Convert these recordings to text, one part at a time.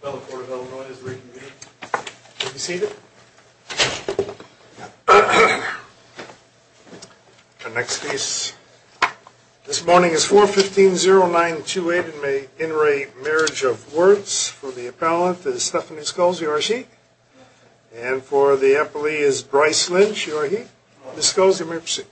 For the Appellant it is Stephanie Sculls, you are a Sheik, and for the Appellant it is Bryce Lynch, you are a Heik. Ms. Sculls you may proceed.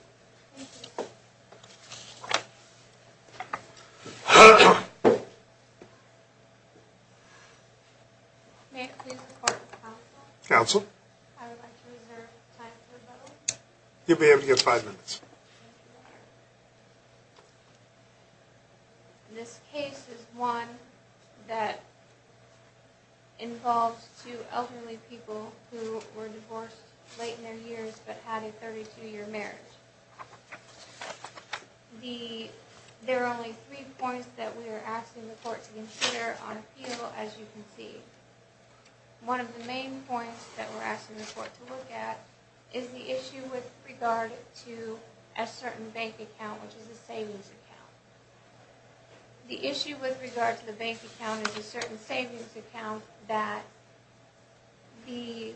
May I please report to counsel? I would like to reserve time for rebuttal. You will be able to give five minutes. This case is one that involves two elderly people who were divorced late in their years but had a 32 year marriage. There are only three points that we are asking the court to consider on appeal as you can see. One of the main points that we are asking the court to look at is the issue with regard to a certain bank account which is a savings account. The issue with regard to the bank account is a certain savings account that the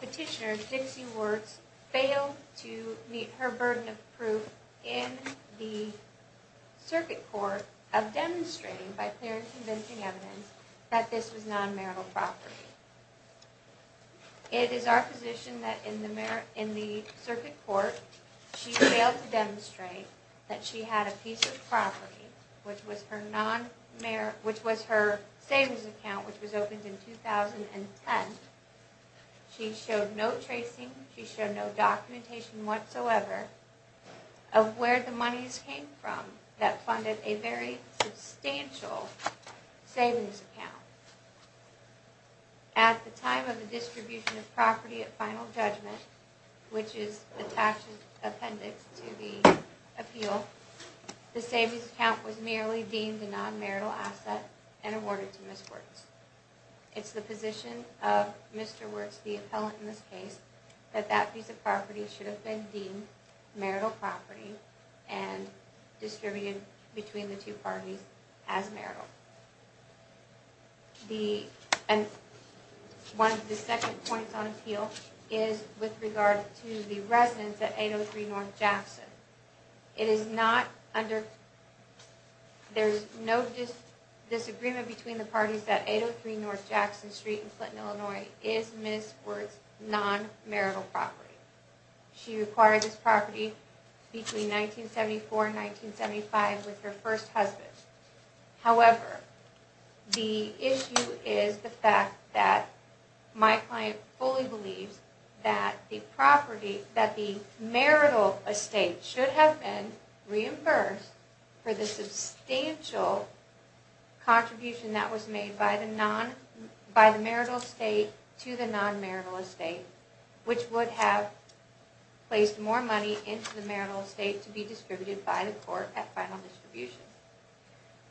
petitioner Dixie Werts failed to meet her burden of proof in the circuit court of demonstrating by clear and convincing evidence that this was non-marital property. It is our position that in the circuit court she failed to demonstrate that she had a piece of property which was her savings account which was opened in 2010. She showed no tracing, she showed no documentation whatsoever of where the monies came from that funded a very substantial savings account. At the time of the distribution of property at final judgment, which is attached as appendix to the appeal, the savings account was merely deemed a non-marital asset and awarded to Ms. Werts. It is the position of Mr. Werts, the appellant in this case, that that piece of property should have been deemed marital property and distributed between the two parties as marital. One of the second points on appeal is with regard to the residence at 803 North Jackson. There is no disagreement between the parties that 803 North Jackson Street in Clinton, Illinois is Ms. Werts' non-marital property. She acquired this property between 1974 and 1975 with her first husband. However, the issue is the fact that my client fully believes that the marital estate should have been reimbursed for the substantial contribution that was made by the marital estate to the non-marital estate, which would have placed more money into the marital estate to be distributed by the court at final distribution.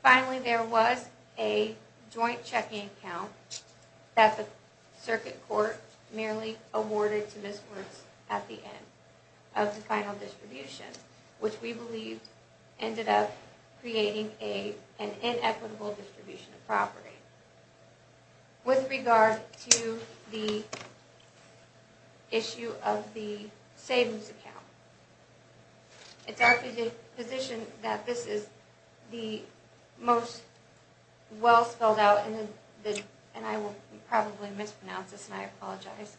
Finally, there was a joint checking account that the circuit court merely awarded to Ms. Werts at the end of the final distribution, which we believe ended up creating an inequitable distribution of property. With regard to the issue of the savings account, it is our position that this is the most well spelled out, and I will probably mispronounce this and I apologize,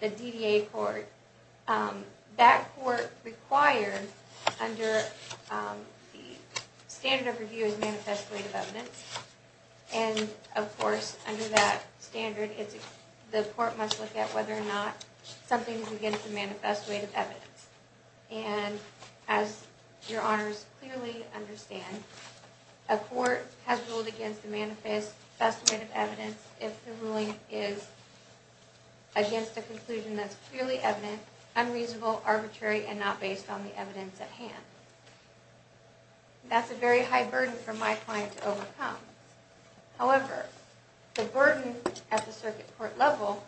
the DDA court. That court required under the standard of review is manifest weight of evidence, and of course under that standard the court must look at whether or not something is against the manifest weight of evidence. And as your honors clearly understand, a court has ruled against the manifest estimate of evidence if the ruling is against a conclusion that is clearly evident, unreasonable, arbitrary, and not based on the evidence at hand. That's a very high burden for my client to overcome. However, the burden at the circuit court level,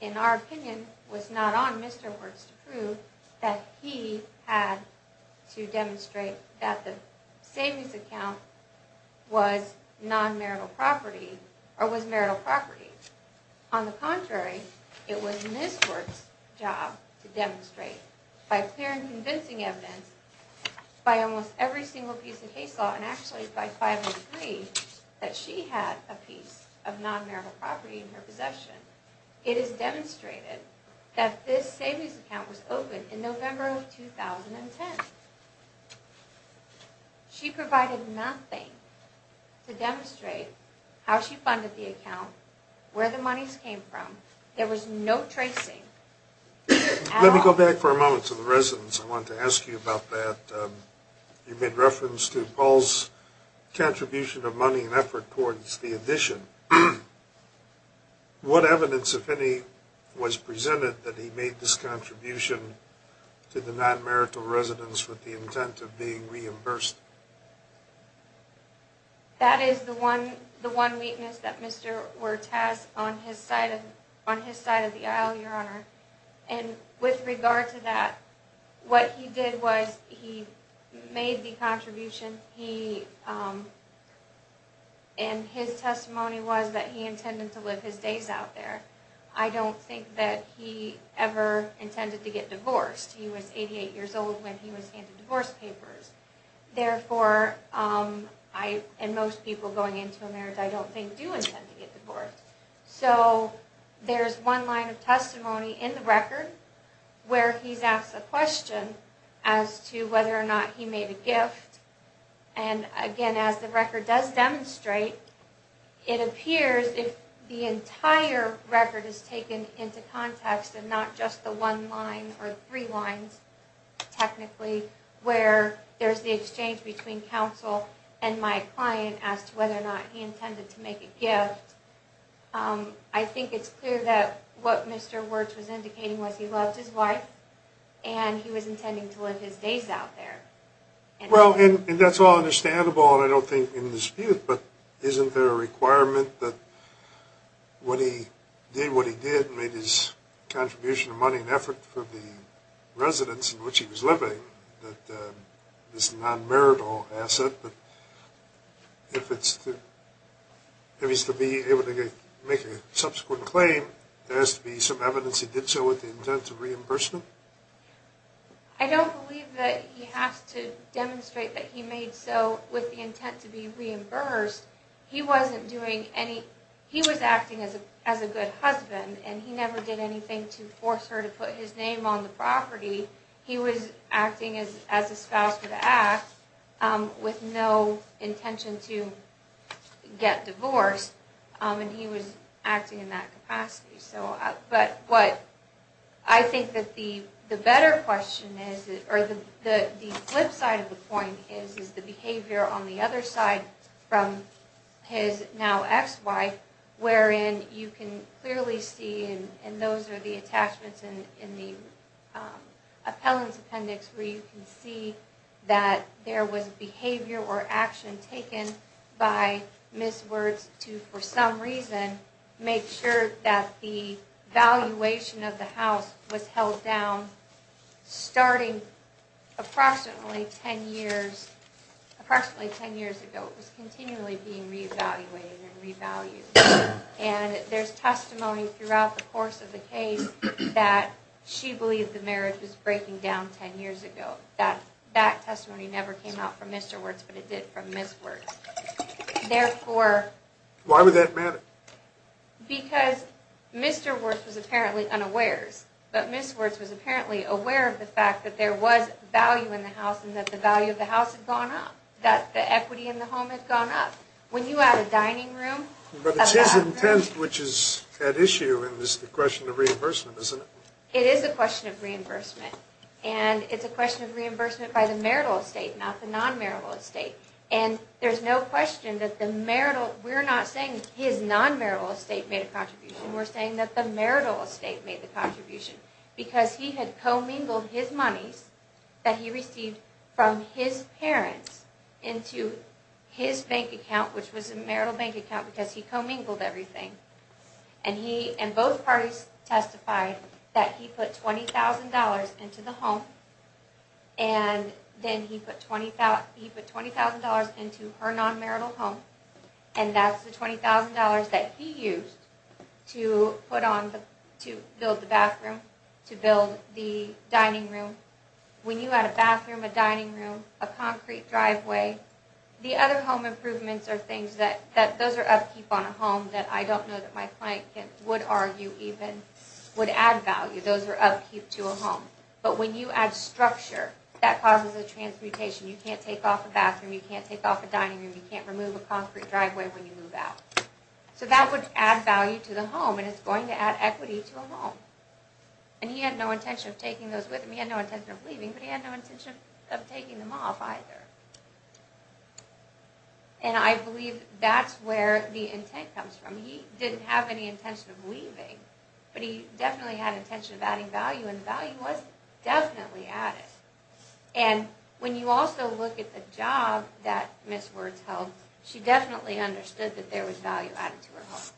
in our opinion, was not on Mr. Werts to prove that he had to demonstrate that the savings account was marital property. On the contrary, it was Ms. Werts' job to demonstrate by clear and convincing evidence by almost every single piece of case law, and actually by 503, that she had a piece of non-marital property in her possession. It is demonstrated that this savings account was opened in November of 2010. She provided nothing to demonstrate how she funded the account, where the monies came from. There was no tracing. Let me go back for a moment to the residence. I wanted to ask you about that. You made reference to Paul's contribution of money and effort towards the addition. What evidence, if any, was presented that he made this contribution to the non-marital residence with the intent of being reimbursed? That is the one weakness that Mr. Werts has on his side of the aisle, Your Honor. With regard to that, what he did was he made the contribution, and his testimony was that he intended to live his days out there. I don't think that he ever intended to get divorced. He was 88 years old when he was handed divorce papers. Therefore, and most people going into a marriage, I don't think do intend to get divorced. There's one line of testimony in the record where he's asked a question as to whether or not he made a gift. Again, as the record does demonstrate, it appears if the entire record is taken into context and not just the one line or three lines, technically, where there's the exchange between counsel and my client as to whether or not he intended to make a gift. I think it's clear that what Mr. Werts was indicating was he loved his wife, and he was intending to live his days out there. Well, and that's all understandable, and I don't think in dispute, but isn't there a requirement that when he did what he did, made his contribution of money and effort for the residence in which he was living, that this non-marital asset, if it's to be able to make a subsequent claim, there has to be some evidence he did so with the intent of reimbursement? I don't believe that he has to demonstrate that he made so with the intent to be reimbursed. He was acting as a good husband, and he never did anything to force her to put his name on the property. He was acting as a spouse of the act with no intention to get divorced, and he was acting in that capacity. But what I think that the better question is, or the flip side of the point is, is the behavior on the other side from his now ex-wife, wherein you can clearly see, and those are the attachments in the appellant's appendix, where you can see that there was behavior or action taken by Ms. Wirtz to, for some reason, make sure that the valuation of the house was held down starting approximately 10 years ago. It was continually being reevaluated and revalued. And there's testimony throughout the course of the case that she believed the marriage was breaking down 10 years ago. That testimony never came out from Mr. Wirtz, but it did from Ms. Wirtz. Why would that matter? Because Mr. Wirtz was apparently unawares, but Ms. Wirtz was apparently aware of the fact that there was value in the house and that the value of the house had gone up, that the equity in the home had gone up. When you add a dining room... But it's his intent which is at issue, and it's the question of reimbursement, isn't it? It is a question of reimbursement, and it's a question of reimbursement by the marital estate, not the non-marital estate. And there's no question that the marital... We're not saying his non-marital estate made a contribution. We're saying that the marital estate made the contribution because he had commingled his monies that he received from his parents into his bank account, which was a marital bank account, because he commingled everything. And both parties testified that he put $20,000 into the home, and then he put $20,000 into her non-marital home, and that's the $20,000 that he used to build the bathroom, to build the dining room. When you add a bathroom, a dining room, a concrete driveway, the other home improvements are things that... Those are upkeep on a home that I don't know that my client would argue even would add value. Those are upkeep to a home. But when you add structure, that causes a transmutation. You can't take off a bathroom, you can't take off a dining room, you can't remove a concrete driveway when you move out. So that would add value to the home, and it's going to add equity to a home. And he had no intention of taking those with him, he had no intention of leaving, but he had no intention of taking them off either. And I believe that's where the intent comes from. He didn't have any intention of leaving, but he definitely had intention of adding value, and the value was definitely added. And when you also look at the job that Ms. Wertz held, she definitely understood that there was value added to her home.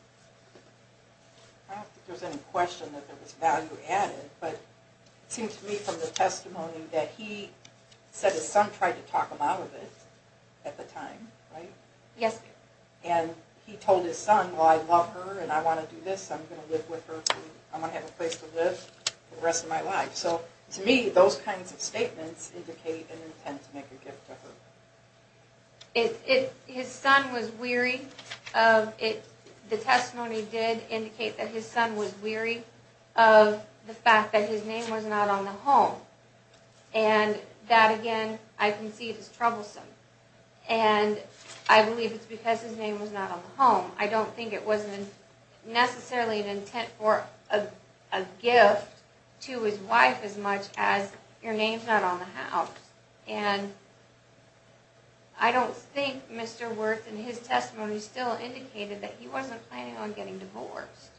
I don't think there's any question that there was value added, but it seems to me from the testimony that he said his son tried to talk him out of it at the time, right? Yes. And he told his son, well I love her and I want to do this, I'm going to live with her, I'm going to have a place to live for the rest of my life. So to me, those kinds of statements indicate an intent to make a gift to her. His son was weary, the testimony did indicate that his son was weary of the fact that his name was not on the home. And that again, I can see is troublesome. And I believe it's because his name was not on the home. I don't think it was necessarily an intent for a gift to his wife as much as your name's not on the house. And I don't think Mr. Wertz in his testimony still indicated that he wasn't planning on getting divorced.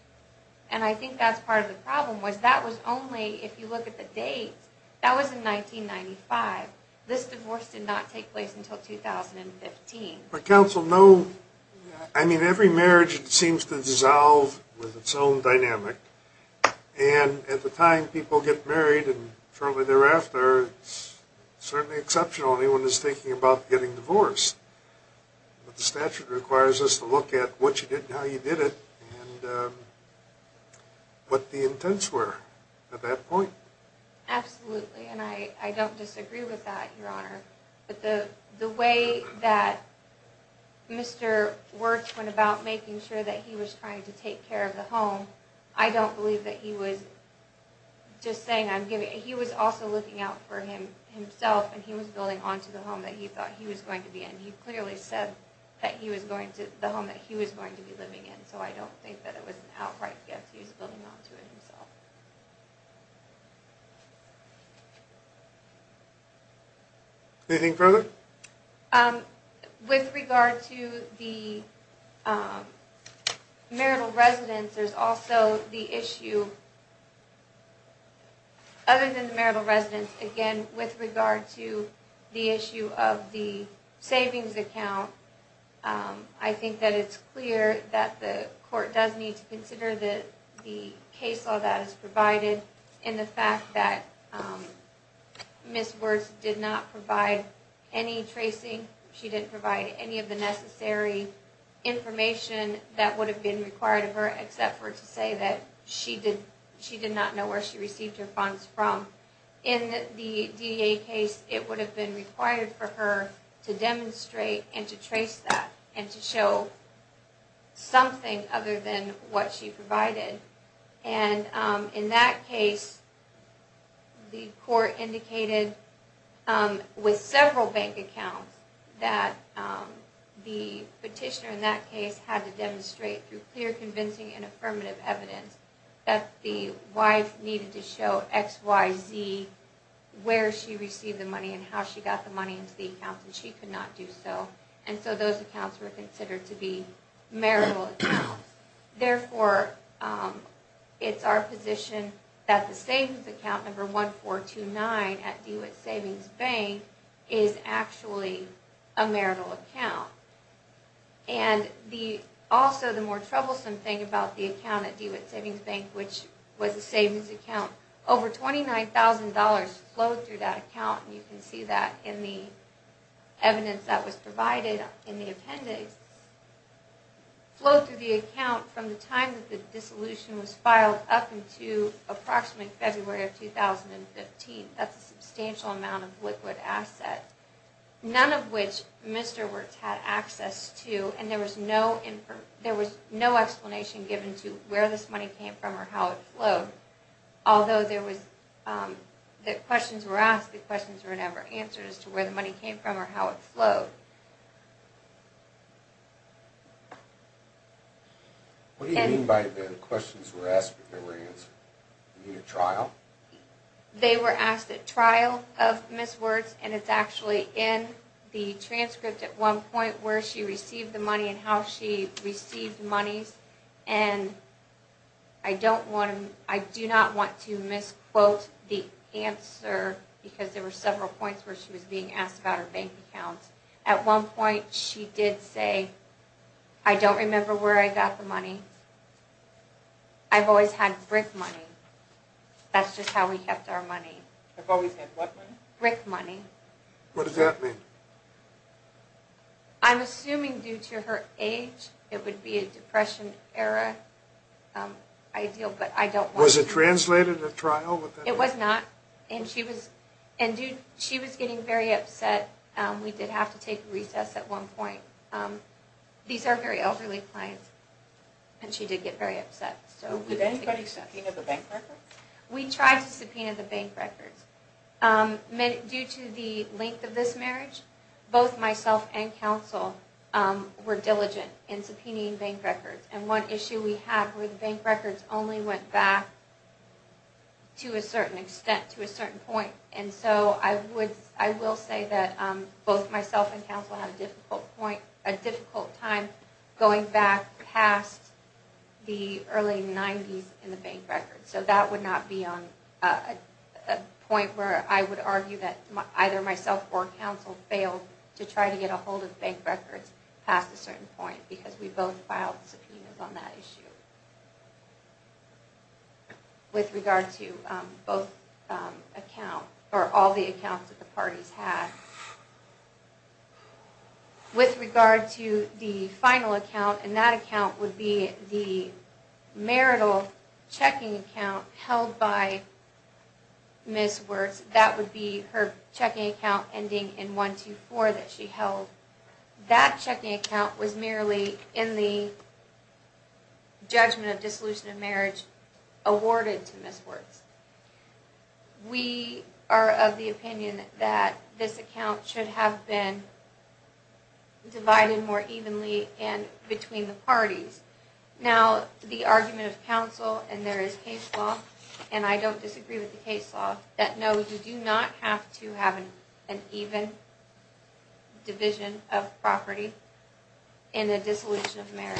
And I think that's part of the problem was that was only, if you look at the date, that was in 1995. This divorce did not take place until 2015. But counsel, no, I mean every marriage seems to dissolve with its own dynamic. And at the time people get married and shortly thereafter, it's certainly exceptional anyone is thinking about getting divorced. But the statute requires us to look at what you did and how you did it and what the intents were at that point. Absolutely, and I don't disagree with that, Your Honor. But the way that Mr. Wertz went about making sure that he was trying to take care of the home, I don't believe that he was just saying, he was also looking out for himself and he was building onto the home that he thought he was going to be in. He clearly said that he was going to, the home that he was going to be living in. So I don't think that it was an outright gift. He was building onto it himself. Anything further? With regard to the marital residence, there's also the issue, other than the marital residence, again, with regard to the issue of the savings account, I think that it's clear that the court does need to consider the case law that is provided in the fact that Ms. Wertz did not provide any tracing. She didn't provide any of the necessary information that would have been required of her except for to say that she did not know where she received her funds from. In the DEA case, it would have been required for her to demonstrate and to trace that and to show something other than what she provided. In that case, the court indicated, with several bank accounts, that the petitioner in that case had to demonstrate through clear, convincing, and affirmative evidence that the wife needed to show XYZ where she received the money and how she got the money into the account and she could not do so. So those accounts were considered to be marital accounts. Therefore, it's our position that the savings account number 1429 at DeWitt Savings Bank is actually a marital account. And also, the more troublesome thing about the account at DeWitt Savings Bank, which was a savings account, over $29,000 flowed through that account, and you can see that in the evidence that was provided in the appendix, flowed through the account from the time that the dissolution was filed up until approximately February of 2015. That's a substantial amount of liquid asset, none of which Mr. Wertz had access to, and there was no explanation given to where this money came from or how it flowed. Although questions were asked, the questions were never answered as to where the money came from or how it flowed. What do you mean by the questions were asked but never answered? Do you mean at trial? They were asked at trial of Ms. Wertz, and it's actually in the transcript at one point where she received the money and how she received the monies. And I do not want to misquote the answer because there were several points where she was being asked about her bank account. At one point she did say, I don't remember where I got the money. I've always had brick money. That's just how we kept our money. You've always had what money? Brick money. What does that mean? I'm assuming due to her age, it would be a depression era ideal, but I don't know. Was it translated at trial? It was not, and she was getting very upset. We did have to take a recess at one point. These are very elderly clients, and she did get very upset. Did anybody subpoena the bank records? We tried to subpoena the bank records. Due to the length of this marriage, both myself and counsel were diligent in subpoenaing bank records. And one issue we had were the bank records only went back to a certain extent, to a certain point. And so I will say that both myself and counsel had a difficult time going back past the early 90s in the bank records. So that would not be a point where I would argue that either myself or counsel failed to try to get a hold of bank records past a certain point because we both filed subpoenas on that issue. With regard to both accounts, or all the accounts that the parties had. With regard to the final account, and that account would be the marital checking account held by Ms. Wertz. That would be her checking account ending in 124 that she held. That checking account was merely in the judgment of dissolution of marriage awarded to Ms. Wertz. We are of the opinion that this account should have been divided more evenly between the parties. Now, the argument of counsel, and there is case law, and I don't disagree with the case law, that no, you do not have to have an even division of property in a dissolution of marriage.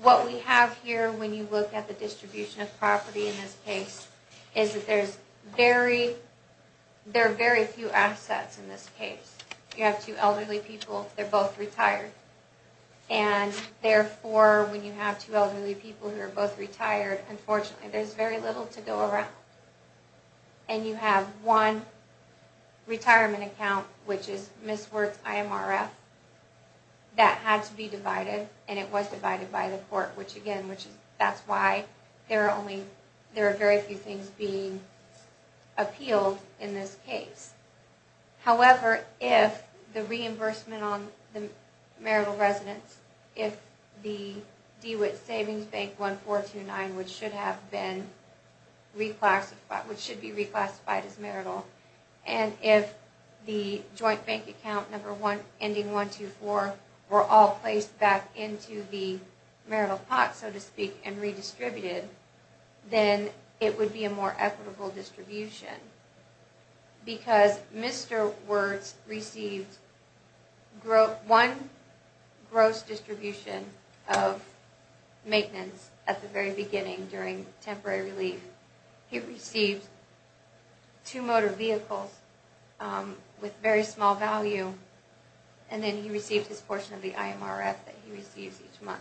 What we have here when you look at the distribution of property in this case is that there are very few assets in this case. You have two elderly people, they're both retired. And therefore, when you have two elderly people who are both retired, unfortunately, there's very little to go around. And you have one retirement account, which is Ms. Wertz IMRF, that had to be divided, and it was divided by the court, which again, that's why there are very few things being appealed in this case. However, if the reimbursement on the marital residence, if the DeWitt Savings Bank 1429, which should have been reclassified, which should be reclassified as marital, and if the joint bank account number ending 124 were all placed back into the marital pot, so to speak, and redistributed, then it would be a more equitable distribution. Because Mr. Wertz received one gross distribution of maintenance at the very beginning during temporary relief. He received two motor vehicles with very small value, and then he received his portion of the IMRF that he receives each month.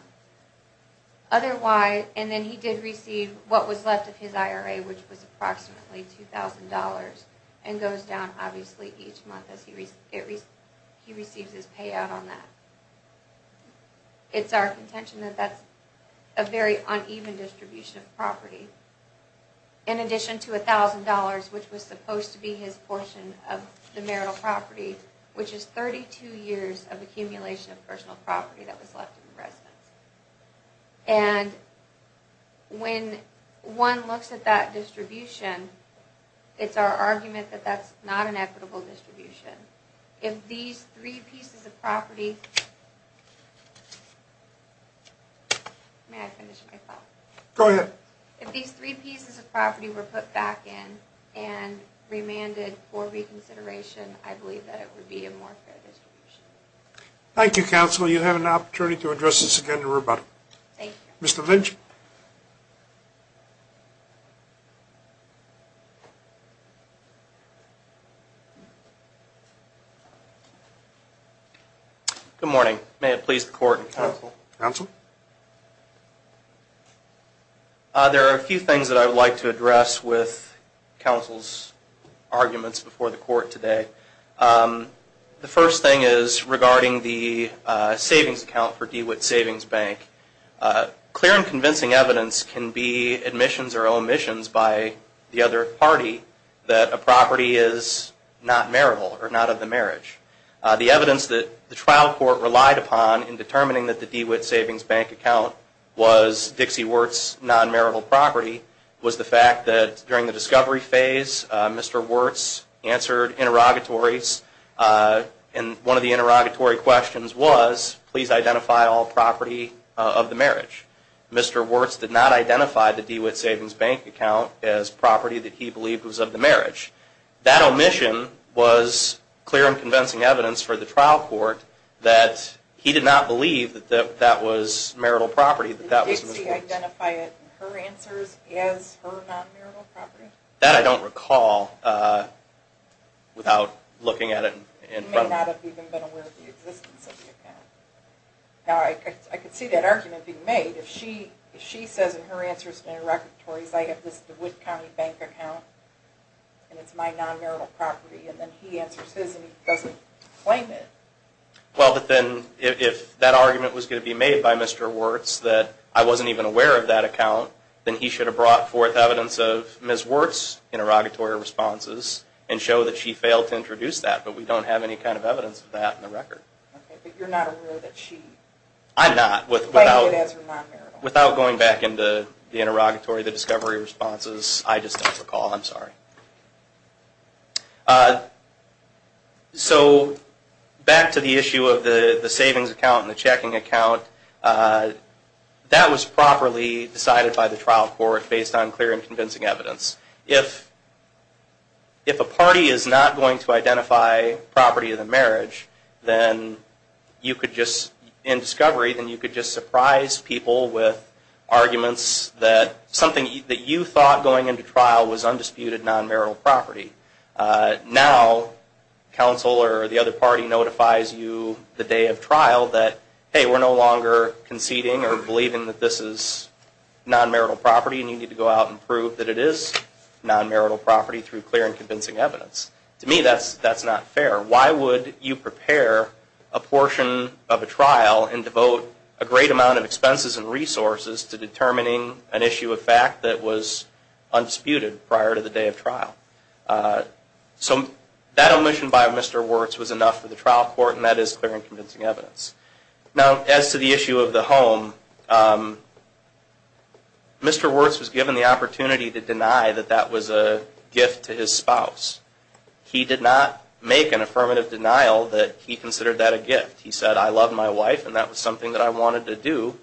Otherwise, and then he did receive what was left of his IRA, which was approximately $2,000, and goes down obviously each month as he receives his payout on that. It's our contention that that's a very uneven distribution of property. In addition to $1,000, which was supposed to be his portion of the marital property, which is 32 years of accumulation of personal property that was left in the residence. And when one looks at that distribution, it's our argument that that's not an equitable distribution. If these three pieces of property were put back in and remanded for reconsideration, I believe that it would be a more fair distribution. Thank you, counsel. You have an opportunity to address this again in rebuttal. Thank you. Mr. Lynch. Good morning. May it please the court and counsel. Counsel. There are a few things that I would like to address with counsel's arguments before the court today. The first thing is regarding the savings account for DeWitt Savings Bank. Clear and convincing evidence can be admissions or omissions by the other party that a property is not marital or not of the marriage. The evidence that the trial court relied upon in determining that the DeWitt Savings Bank account was Dixie Wertz's non-marital property was the fact that during the discovery phase, Mr. Wertz answered interrogatories. And one of the interrogatory questions was, please identify all property of the marriage. Mr. Wertz did not identify the DeWitt Savings Bank account as property that he believed was of the marriage. That omission was clear and convincing evidence for the trial court that he did not believe that that was marital property. Did Dixie identify it in her answers as her non-marital property? That I don't recall without looking at it in front of me. He may not have even been aware of the existence of the account. Now, I could see that argument being made. If she says in her answers in interrogatories, I have this DeWitt County bank account and it's my non-marital property, and then he answers his and he doesn't claim it. Well, but then if that argument was going to be made by Mr. Wertz, that I wasn't even aware of that account, then he should have brought forth evidence of Ms. Wertz's interrogatory responses and show that she failed to introduce that. But we don't have any kind of evidence of that in the record. But you're not aware that she claimed it as her non-marital property? I'm not. Without going back into the interrogatory, the discovery responses, I just don't recall. I'm sorry. Okay. So back to the issue of the savings account and the checking account, that was properly decided by the trial court based on clear and convincing evidence. If a party is not going to identify property of the marriage, then you could just, in discovery, then you could just surprise people with arguments that something that you thought going into trial was undisputed non-marital property. Now, counsel or the other party notifies you the day of trial that, hey, we're no longer conceding or believing that this is non-marital property and you need to go out and prove that it is non-marital property through clear and convincing evidence. To me, that's not fair. Why would you prepare a portion of a trial and devote a great amount of time to something that was undisputed prior to the day of trial? So that omission by Mr. Wirtz was enough for the trial court, and that is clear and convincing evidence. Now, as to the issue of the home, Mr. Wirtz was given the opportunity to deny that that was a gift to his spouse. He did not make an affirmative denial that he considered that a gift. He said, I love my wife and that was something that I wanted to do.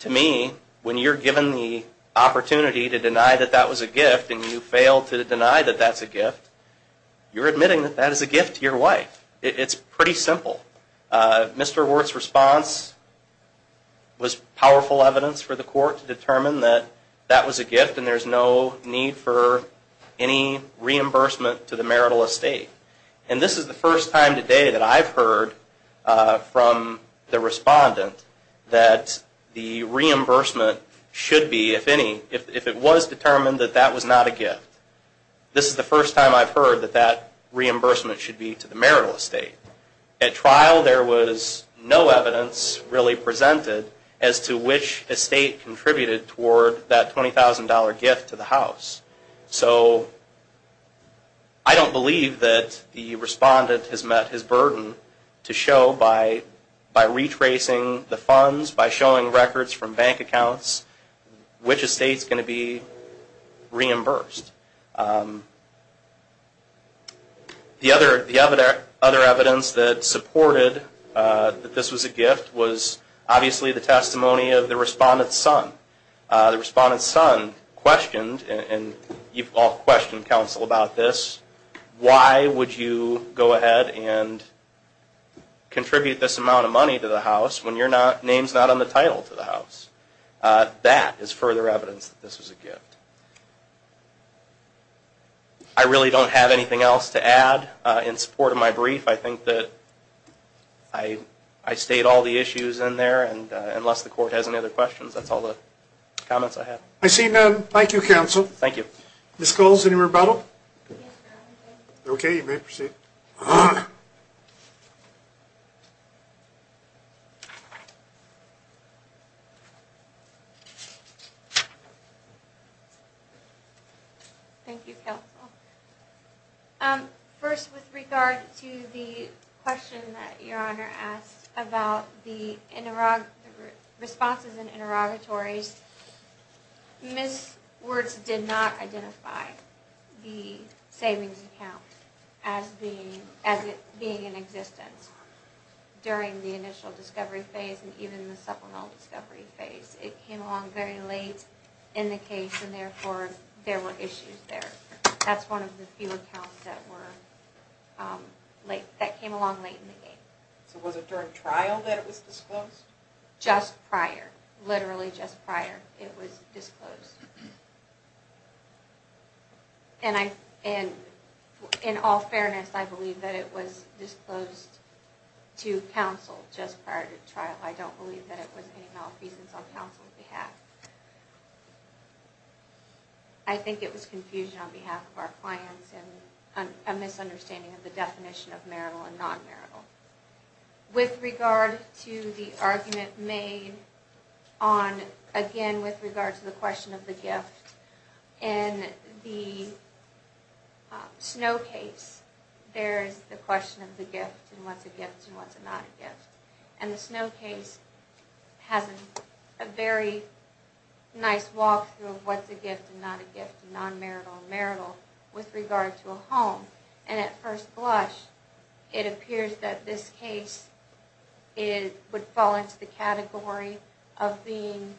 To me, when you're given the opportunity to deny that that was a gift and you fail to deny that that's a gift, you're admitting that that is a gift to your wife. It's pretty simple. Mr. Wirtz's response was powerful evidence for the court to determine that that was a gift and there's no need for any reimbursement to the marital estate. And this is the first time today that I've heard from the respondent that the reimbursement should be, if any, if it was determined that that was not a gift, this is the first time I've heard that that reimbursement should be to the marital estate. At trial there was no evidence really presented as to which estate contributed toward that $20,000 gift to the house. So I don't believe that the respondent has met his burden to show by retracing the funds, by showing records from bank accounts, which estate is going to be reimbursed. The other evidence that supported that this was a gift was obviously the testimony of the respondent's son. The respondent's son questioned, and you've all questioned counsel about this, why would you go ahead and contribute this amount of money to the house when your name's not on the title to the house? That is further evidence that this was a gift. I really don't have anything else to add in support of my brief. I think that I state all the issues in there and unless the court has any other questions, that's all the comments I have. I see none. Thank you counsel. Thank you. Ms. Coles, any rebuttal? Yes, Your Honor. Okay, you may proceed. Thank you, counsel. First with regard to the question that Your Honor asked about the responses in interrogatories, Ms. Wirtz did not identify the savings account as it being in existence during the initial discovery phase and even the supplemental discovery phase. It came along very late in the case and therefore there were issues there. That's one of the few accounts that came along late in the case. So was it during trial that it was disclosed? Just prior. Literally just prior it was disclosed. In all fairness, I believe that it was disclosed to counsel just prior to trial. I don't believe that it was any malfeasance on counsel's behalf. I think it was confusion on behalf of our clients and a misunderstanding of the definition of marital and non-marital. With regard to the argument made on, again, with regard to the question of the gift, in the Snow case there's the question of the gift and what's a gift and what's not a gift. And the Snow case has a very nice walkthrough of what's a gift and not a gift and non-marital and marital with regard to a home. And at first blush it appears that this case would fall into the category of being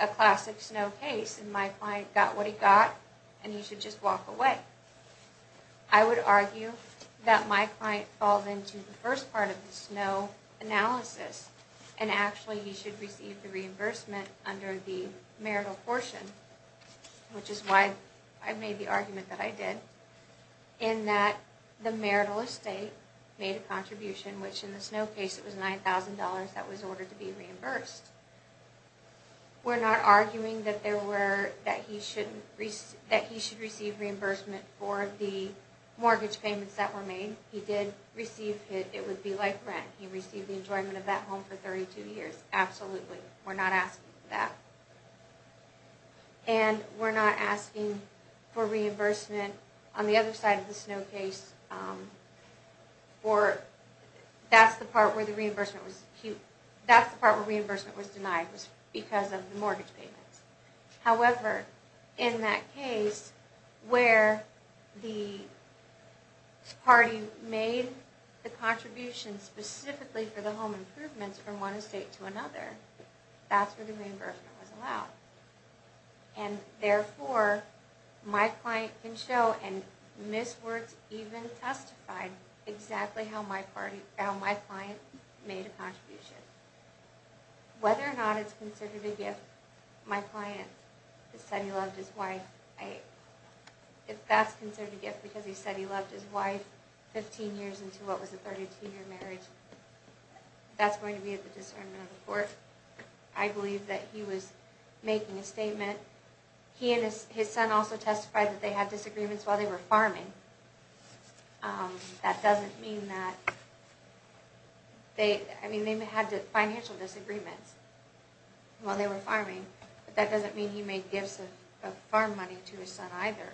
a classic Snow case and my client got what he got and he should just walk away. I would argue that my client falls into the first part of the Snow analysis and actually he should receive the reimbursement under the marital portion, which is why I made the argument that I did, in that the marital estate made a contribution, which in the Snow case it was $9,000 that was ordered to be reimbursed. We're not arguing that he should receive reimbursement for the mortgage payments that were made. He did receive it. It would be like rent. He received the enjoyment of that home for 32 years. Absolutely. We're not asking for that. And we're not asking for reimbursement on the other side of the Snow case for that's the part where the reimbursement was, that's the part where reimbursement was denied because of the mortgage payments. However, in that case where the party made the contribution specifically for the home improvements from one estate to another, that's where the reimbursement was allowed. And therefore, my client can show and Ms. Wirtz even testified exactly how my client made a contribution. Whether or not it's considered a gift, my client has said he loved his wife, if that's considered a gift because he said he loved his wife 15 years into what was a 32-year marriage, that's going to be at the discernment of the court. I believe that he was making a statement. He and his son also testified that they had disagreements while they were farming. That doesn't mean that they had financial disagreements while they were farming, but that doesn't mean he made gifts of farm money to his son either.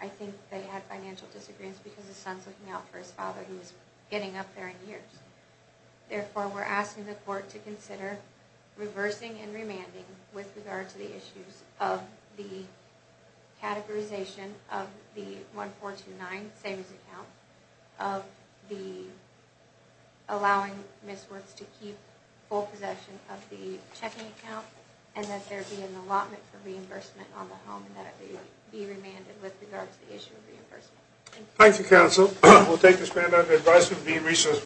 I think they had financial disagreements because his son's looking out for his I don't think he was getting up there in years. Therefore, we're asking the court to consider reversing and remanding with regard to the issues of the categorization of the 1429 savings account, of the allowing Ms. Wirtz to keep full possession of the checking account, and that there be an allotment for reimbursement on the home and that it be remanded with regard to the issue of reimbursement. Thank you, counsel. We'll take this matter under advisory of the research.